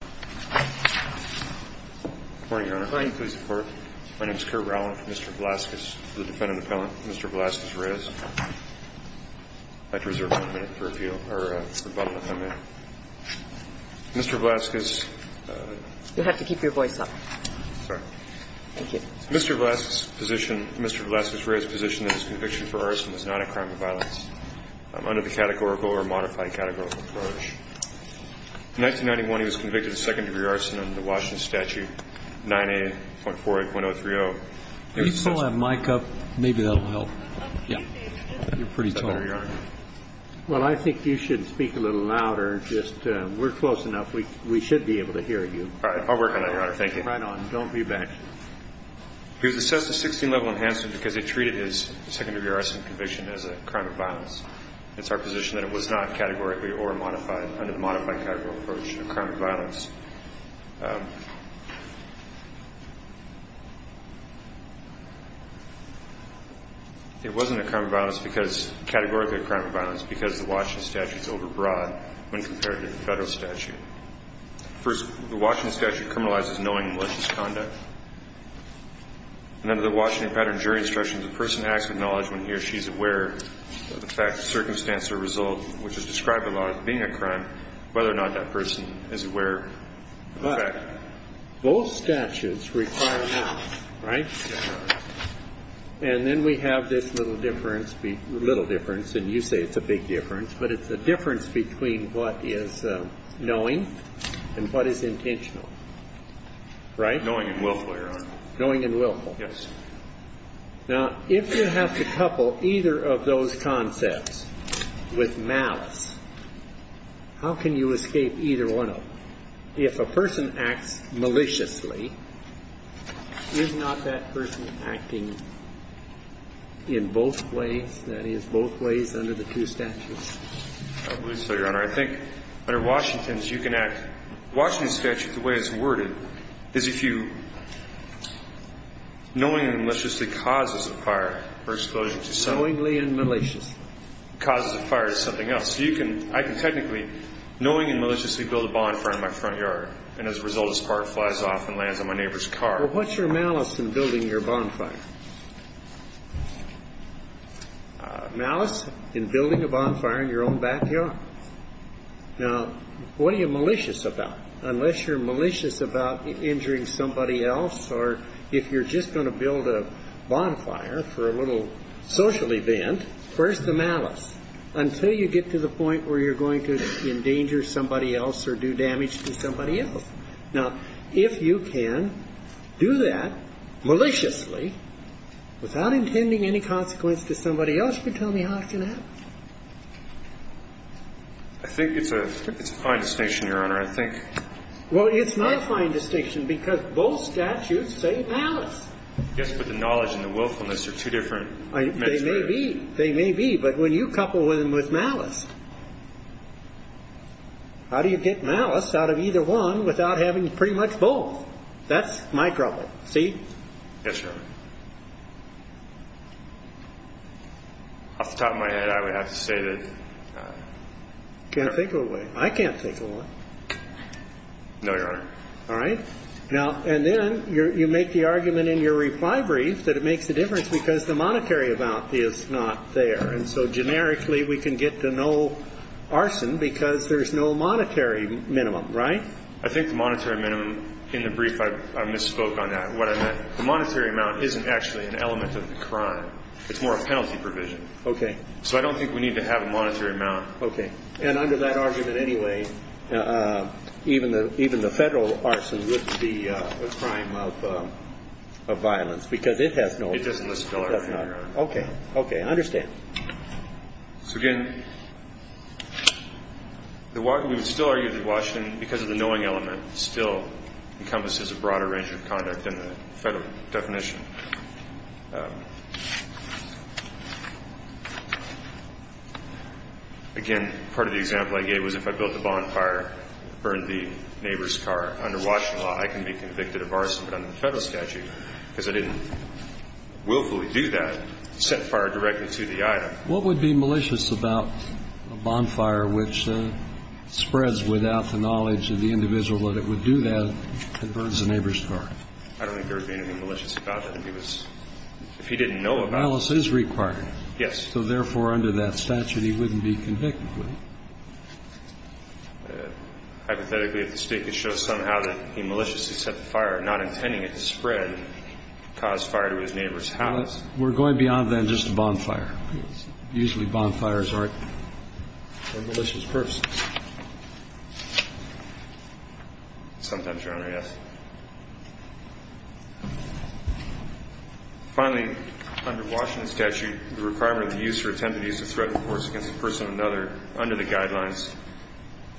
Good morning, Your Honor. Good morning. Please report. My name is Curt Rowland, Mr. Velasquez, the defendant appellant, Mr. Velasquez-Reyes. I'd like to reserve one minute for appeal. Mr. Velasquez. You'll have to keep your voice up. Thank you. Mr. Velasquez's position, Mr. Velasquez-Reyes' position is conviction for arson is not a crime of violence under the categorical or modified categorical approach. In 1991, he was convicted of second-degree arson under the Washington statute, 9A.48.030. Can you pull that mic up? Maybe that'll help. Yeah. You're pretty tall. Well, I think you should speak a little louder. We're close enough. We should be able to hear you. All right. I'll work on that, Your Honor. Thank you. Right on. Don't be bad. He was assessed a 16-level enhancement because he treated his second-degree arson conviction as a crime of violence. It wasn't a crime of violence because – categorically a crime of violence because the Washington statute is overbroad when compared to the federal statute. First, the Washington statute criminalizes knowing malicious conduct. And under the Washington pattern jury instruction, the person has to acknowledge when he or she is aware of the fact, circumstance, or result, which is described by law as being a crime, whether or not that is a crime. But both statutes require knowledge, right? And then we have this little difference, and you say it's a big difference, but it's a difference between what is knowing and what is intentional, right? Knowing and willful, Your Honor. Knowing and willful. Yes. Now, if you have to couple either of those concepts with malice, how can you escape either one of them? If a person acts maliciously, is not that person acting in both ways? That is, both ways under the two statutes? I believe so, Your Honor. I think under Washington's, you can act – the Washington statute, the way it's caused a fire is something else. So you can – I can technically, knowing and maliciously build a bonfire in my front yard, and as a result, this car flies off and lands on my neighbor's car. Well, what's your malice in building your bonfire? Malice in building a bonfire in your own backyard. Now, what are you malicious about? Unless you're malicious about injuring somebody else, or if you're just going to build a bonfire for a little social event, where's the malice? Until you get to the point where you're going to endanger somebody else or do damage to somebody else. Now, if you can do that maliciously without intending any consequence to somebody else, you can tell me how it can happen. I think it's a fine distinction, Your Honor. I think – Well, it's not a fine distinction because both statutes say malice. Yes, but the knowledge and the willfulness are two different – They may be. They may be. But when you couple them with malice, how do you get malice out of either one without having pretty much both? That's my trouble. See? Yes, Your Honor. Off the top of my head, I would have to say that – Can't think of a way. I can't think of one. No, Your Honor. All right? Now – and then you make the argument in your reply brief that it makes a difference because the monetary amount is not there. And so generically, we can get the no arson because there's no monetary minimum, right? I think the monetary minimum – in the brief, I misspoke on that, what I meant. The monetary amount isn't actually an element of the crime. It's more a penalty provision. Okay. So I don't think we need to have a monetary amount. Okay. And under that argument anyway, even the federal arson wouldn't be a crime of violence because it has no – It doesn't list a dollar figure. Okay. Okay. I understand. So again, we would still argue that Washington, because of the knowing element, still encompasses a broader range of conduct than the federal definition. Again, part of the example I gave you was if I built a bonfire, burned the neighbor's car, under Washington law, I can be convicted of arson, but under the federal statute, because I didn't willfully do that, set fire directly to the item. What would be malicious about a bonfire which spreads without the knowledge of the individual that it would do that and burns the neighbor's car? I don't think there would be anything malicious about that if he was – if he didn't know about it. If the violence is required, so therefore, under that statute, he wouldn't be convicted, would he? Hypothetically, if the State could show somehow that he maliciously set the fire, not intending it to spread, cause fire to his neighbor's house. We're going beyond then just a bonfire? Yes. Usually bonfires aren't for malicious purposes. Sometimes, Your Honor, yes. Finally, under Washington statute, the requirement of the use or attempt to use a threat of force against a person or another under the guidelines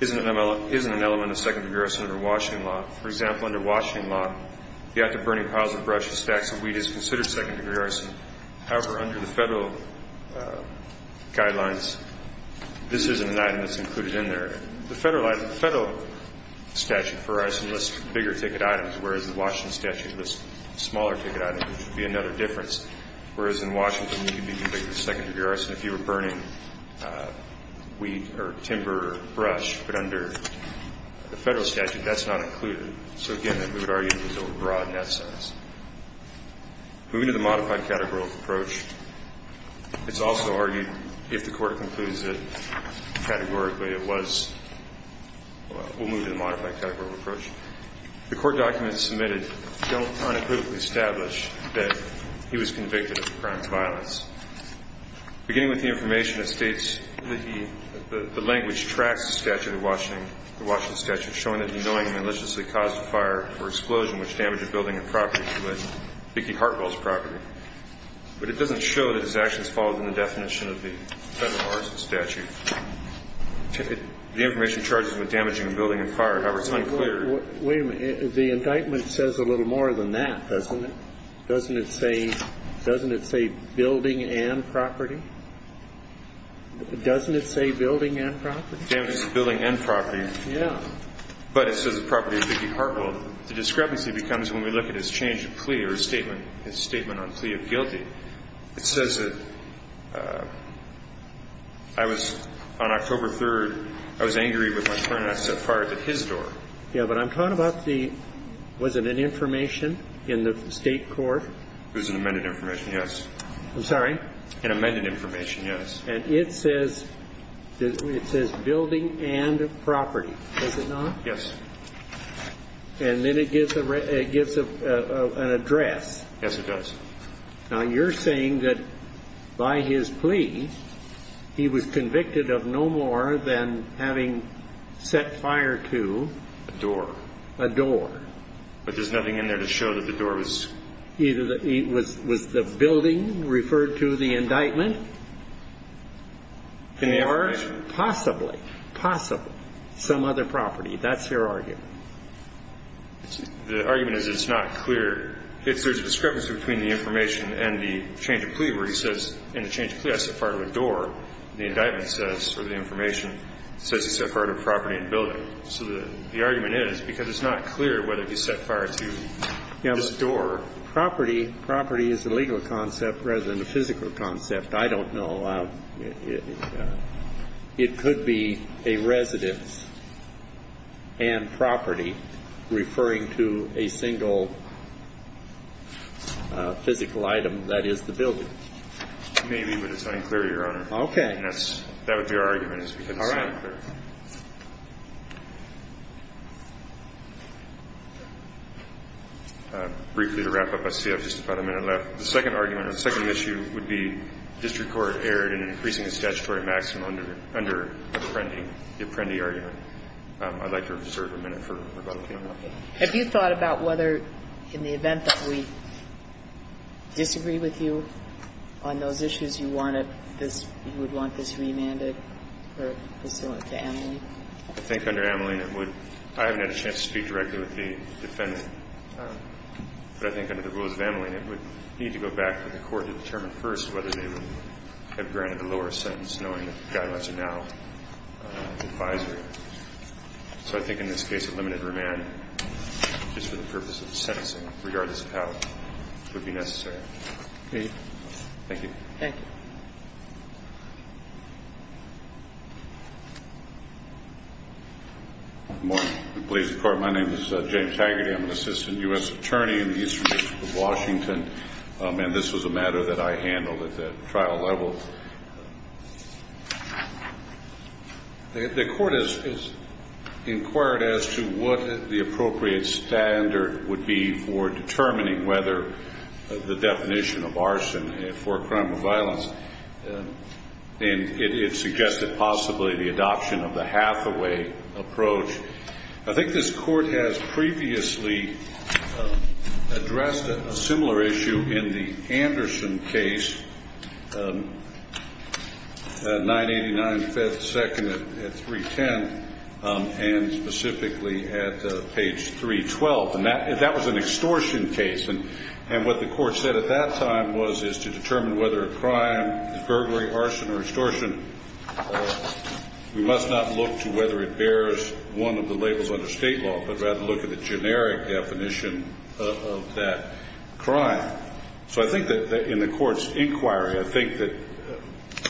isn't an element of second-degree arson under Washington law. For example, under Washington law, the act of burning piles of brush or stacks of wheat is considered second-degree arson. However, under the Federal guidelines, this isn't an item that's included in there. The Federal statute for arson lists bigger ticket items, whereas the Washington statute lists smaller ticket items, which would be another difference. Whereas in Washington, you can be convicted of second-degree arson if you were burning wheat or timber or brush. But under the Federal statute, that's not included. So, again, we would argue it was overbroad in that sense. Moving to the modified categorical approach, it's also argued if the Court concludes that categorically it was, we'll move to the modified categorical approach. The Court documents submitted don't unequivocally establish that he was convicted of a crime of violence. Beginning with the information, it states that the language tracks the statute of Washington, the Washington statute, showing that he knowingly and maliciously caused a fire or explosion which damaged a building and property, particularly Hartwell's property. But it doesn't show that his actions fall within the definition of the Federal arson statute. The information charges him with damaging a building and fire. However, it's unclear. Wait a minute. The indictment says a little more than that, doesn't it? Doesn't it say, doesn't it say building and property? Doesn't it say building and property? It says building and property. Yeah. But it says the property of Vicki Hartwell. The discrepancy becomes when we look at his change of plea or his statement on plea of guilty. It says that I was, on October 3rd, I was angry with my friend and I set fire to his door. Yeah, but I'm talking about the, was it an information in the state court? It was an amended information, yes. I'm sorry? An amended information, yes. And it says, it says building and property, does it not? Yes. And then it gives an address. Yes, it does. Now, you're saying that by his plea, he was convicted of no more than having set fire to. A door. A door. But there's nothing in there to show that the door was. Either that it was, was the building referred to the indictment? Possibly. Possibly. Some other property. That's your argument. The argument is it's not clear. There's a discrepancy between the information and the change of plea where he says, in the change of plea, I set fire to a door. The indictment says, or the information, says he set fire to a property and building. So the argument is, because it's not clear whether he set fire to this door. Property, property is a legal concept rather than a physical concept. I don't know. It could be a residence and property referring to a single physical item that is the building. Maybe, but it's unclear, Your Honor. Okay. That would be our argument is because it's not clear. All right. Briefly to wrap up, I see I have just about a minute left. The second argument or second issue would be district court erred in increasing the statutory maximum under Apprendi, the Apprendi argument. I'd like to reserve a minute for rebuttal, Your Honor. Okay. Have you thought about whether, in the event that we disagree with you on those issues, you want this, you would want this remanded or pursuant to Ameline? I think under Ameline it would, I haven't had a chance to speak directly with the defendant, but I think under the rules of Ameline it would need to go back to the court to determine first whether they would have granted a lower sentence knowing that the guidelines are now advisory. So I think in this case a limited remand just for the purpose of sentencing, regardless of how it would be necessary. Okay. Thank you. Thank you. Good morning. Police Department. My name is James Taggarty. I'm an assistant U.S. attorney in the Eastern District of Washington, and this was a matter that I handled at the trial level. The court has inquired as to what the appropriate standard would be for determining And it suggested possibly the adoption of the Hathaway approach. I think this court has previously addressed a similar issue in the Anderson case, and specifically at page 312, and that was an extortion case. And what the court said at that time was to determine whether a crime is burglary, arson, or extortion. We must not look to whether it bears one of the labels under state law, but rather look at the generic definition of that crime. So I think that in the court's inquiry, I think that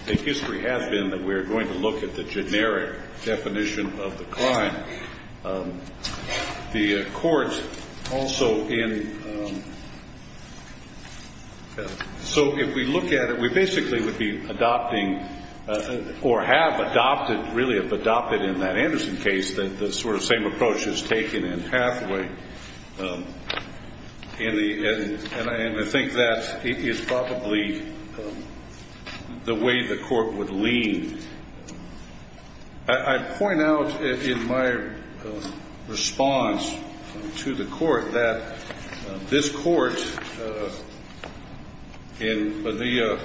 the history has been that we are going to look at the generic definition of the crime. The court also in so if we look at it, we basically would be adopting or have adopted, really have adopted in that Anderson case, that the sort of same approach is taken in Hathaway. And I think that is probably the way the court would lean. I point out in my response to the court that this court in the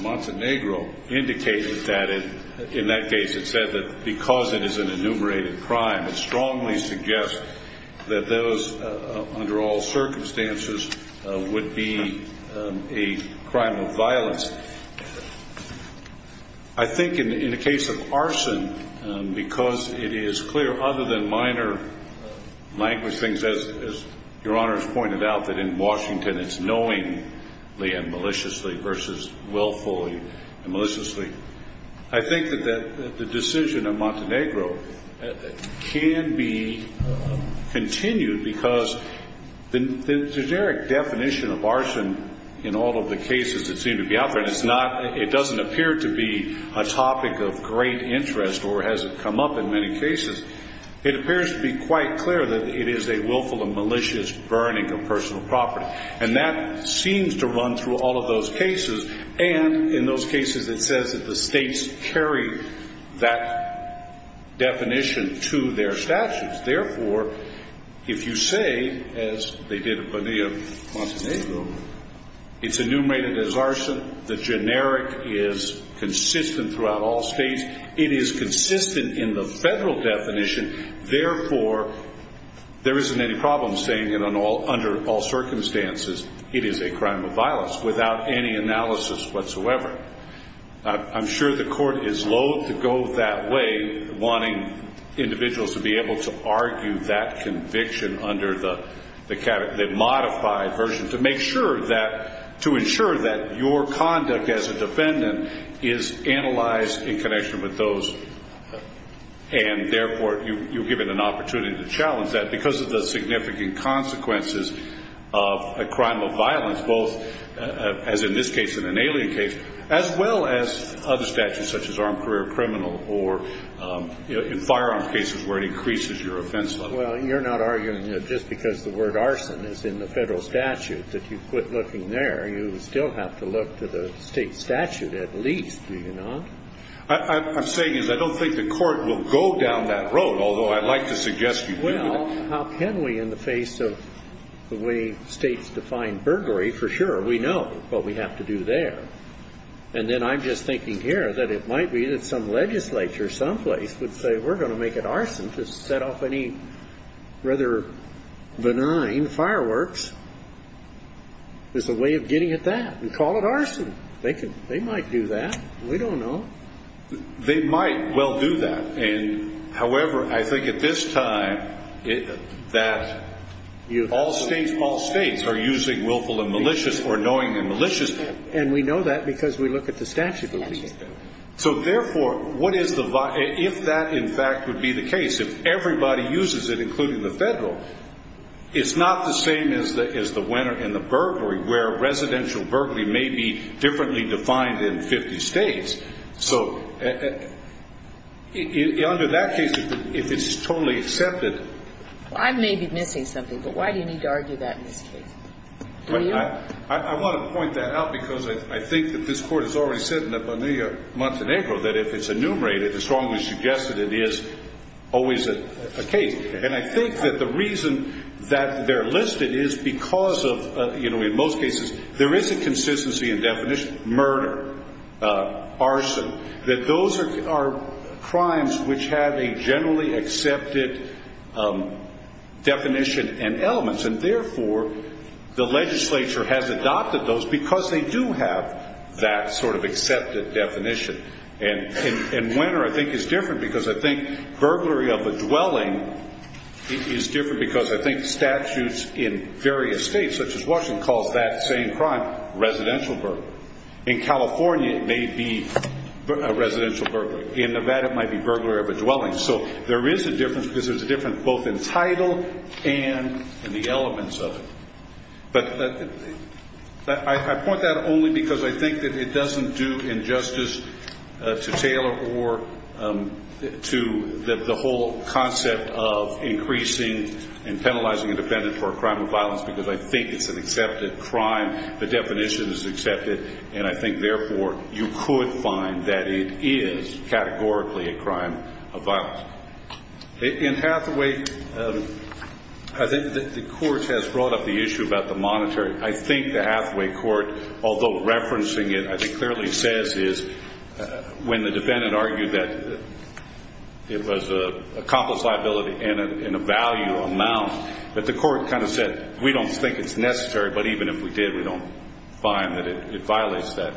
Montenegro indicated that in that case it said that because it is an enumerated crime, it strongly suggests that those under all circumstances would be a crime of I think in the case of arson, because it is clear other than minor languishing, as your Honor has pointed out, that in Washington it's knowingly and maliciously versus willfully and maliciously. I think that the decision of Montenegro can be continued because the generic definition of arson in all of the cases that seem to be out there, and it doesn't appear to be a topic of great interest or has it come up in many cases, it appears to be quite clear that it is a willful and malicious burning of personal property. And that seems to run through all of those cases. And in those cases it says that the states carry that definition to their statutes. Therefore, if you say, as they did in the case of Montenegro, it's enumerated as arson. The generic is consistent throughout all states. It is consistent in the federal definition. Therefore, there isn't any problem saying that under all circumstances it is a crime of violence without any analysis whatsoever. I'm sure the Court is loathe to go that way, wanting individuals to be able to argue that conviction under the modified version to make sure that to ensure that your conduct as a defendant is analyzed in connection with those. And, therefore, you're given an opportunity to challenge that because of the significant consequences of a crime of violence, both as in this case and an alien case, as well as other statutes such as armed career criminal or firearm cases where it increases your offense level. Well, you're not arguing that just because the word arson is in the federal statute that you quit looking there. You still have to look to the state statute at least, do you not? I'm saying is I don't think the Court will go down that road, although I'd like to suggest you do. Well, how can we in the face of the way states define burglary? For sure, we know what we have to do there. And then I'm just thinking here that it might be that some legislature someplace would say we're going to make it arson to set off any rather benign fireworks as a way of getting at that and call it arson. They might do that. We don't know. They might well do that. However, I think at this time that all states are using willful and malicious or knowing and malicious. And we know that because we look at the statute. So, therefore, if that in fact would be the case, if everybody uses it, including the federal, it's not the same as the winner in the burglary where residential burglary may be differently defined in 50 states. So under that case, if it's totally accepted. I may be missing something, but why do you need to argue that in this case? Do you? I want to point that out because I think that this Court has already said in the Bonilla-Montenegro that if it's enumerated, as strongly suggested, it is always a case. And I think that the reason that they're listed is because of, in most cases, there is a consistency in definition, murder, arson, that those are crimes which have a generally accepted definition and elements. And, therefore, the legislature has adopted those because they do have that sort of accepted definition. And winner, I think, is different because I think burglary of a dwelling is different because I think statutes in various states, such as Washington, calls that same crime residential burglary. In California, it may be a residential burglary. In Nevada, it might be burglary of a dwelling. So there is a difference because there's a difference both in title and in the elements of it. But I point that only because I think that it doesn't do injustice to Taylor or to the whole concept of increasing and penalizing a defendant for a crime of violence because I think it's an accepted crime, the definition is accepted, and I think, therefore, you could find that it is categorically a crime of violence. In Hathaway, I think the court has brought up the issue about the monetary. I think the Hathaway court, although referencing it, I think clearly says is, when the defendant argued that it was a complex liability in a value amount, that the court kind of said, we don't think it's necessary, but even if we did, we don't find that it violates that.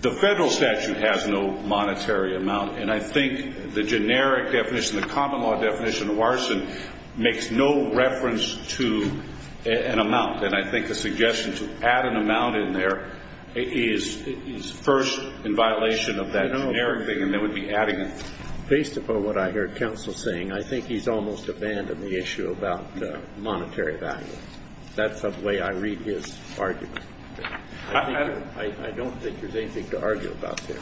The federal statute has no monetary amount, and I think the generic definition, the common law definition of arson makes no reference to an amount, and I think the suggestion to add an amount in there is first in violation of that generic thing, and they would be adding it. Based upon what I heard counsel saying, I think he's almost abandoned the issue about monetary value. That's the way I read his argument. I don't think there's anything to argue about there.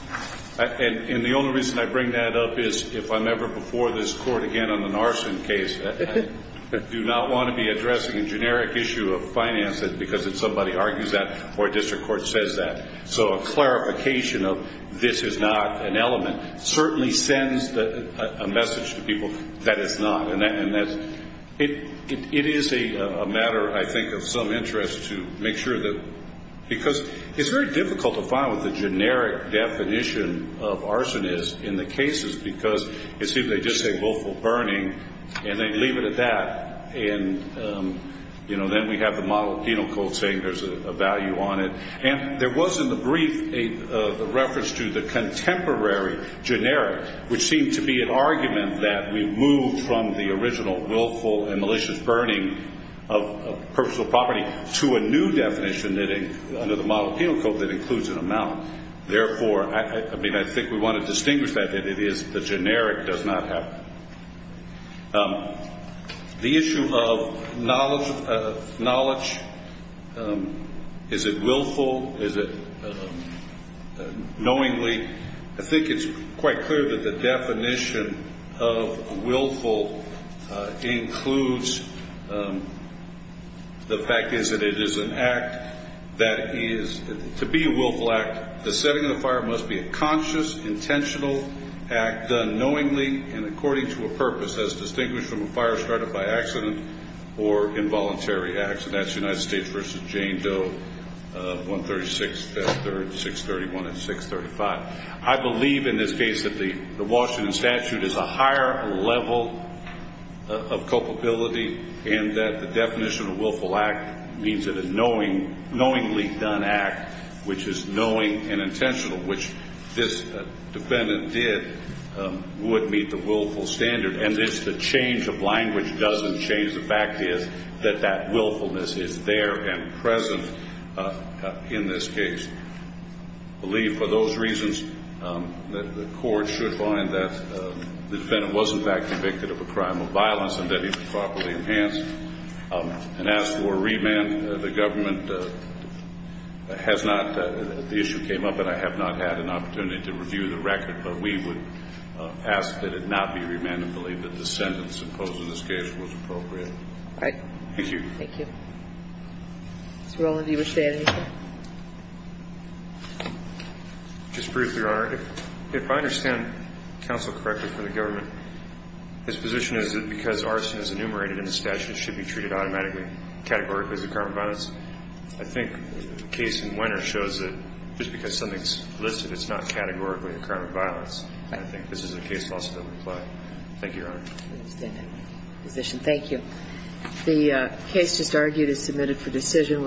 And the only reason I bring that up is if I'm ever before this court again on an arson case, I do not want to be addressing a generic issue of finances because if somebody argues that, or a district court says that. So a clarification of this is not an element certainly sends a message to people that it's not, and it is a matter, I think, of some interest to make sure that, because it's very difficult to find what the generic definition of arson is in the cases because it seems they just say willful burning and they leave it at that, and then we have the model of penal code saying there's a value on it. And there was in the brief a reference to the contemporary generic, which seemed to be an argument that we moved from the original willful and malicious burning of personal property to a new definition under the model of penal code that includes an amount. Therefore, I think we want to distinguish that it is the generic does not have. The issue of knowledge, is it willful? Is it knowingly? I think it's quite clear that the definition of willful includes, the fact is that it is an act that is, to be a willful act, the setting of the fire must be a conscious, intentional act done knowingly and according to a purpose as distinguished from a fire started by accident or involuntary accident. That's United States v. Jane Doe, 136, 631 and 635. I believe in this case that the Washington statute is a higher level of culpability and that the definition of willful act means that a knowingly done act, which is knowing and intentional, which this defendant did, would meet the willful standard. And the change of language doesn't change. The fact is that that willfulness is there and present in this case. I believe for those reasons that the court should find that the defendant was, in fact, convicted of a crime of violence and that he was properly enhanced. And as for remand, the government has not, the issue came up and I have not had an opportunity to review the record, but we would ask that it not be remanded, believe that the sentence imposed in this case was appropriate. All right. Thank you. Thank you. Mr. Roland, do you wish to add anything? Just briefly, Your Honor. If I understand counsel correctly for the government, his position is that because arson is enumerated in the statute, it should be treated automatically, categorically as a crime of violence. I think the case in Wenner shows that just because something's listed, it's not categorically a crime of violence. I think this is a case for us to apply. Thank you, Your Honor. I understand that position. Thank you. The case just argued is submitted for decision.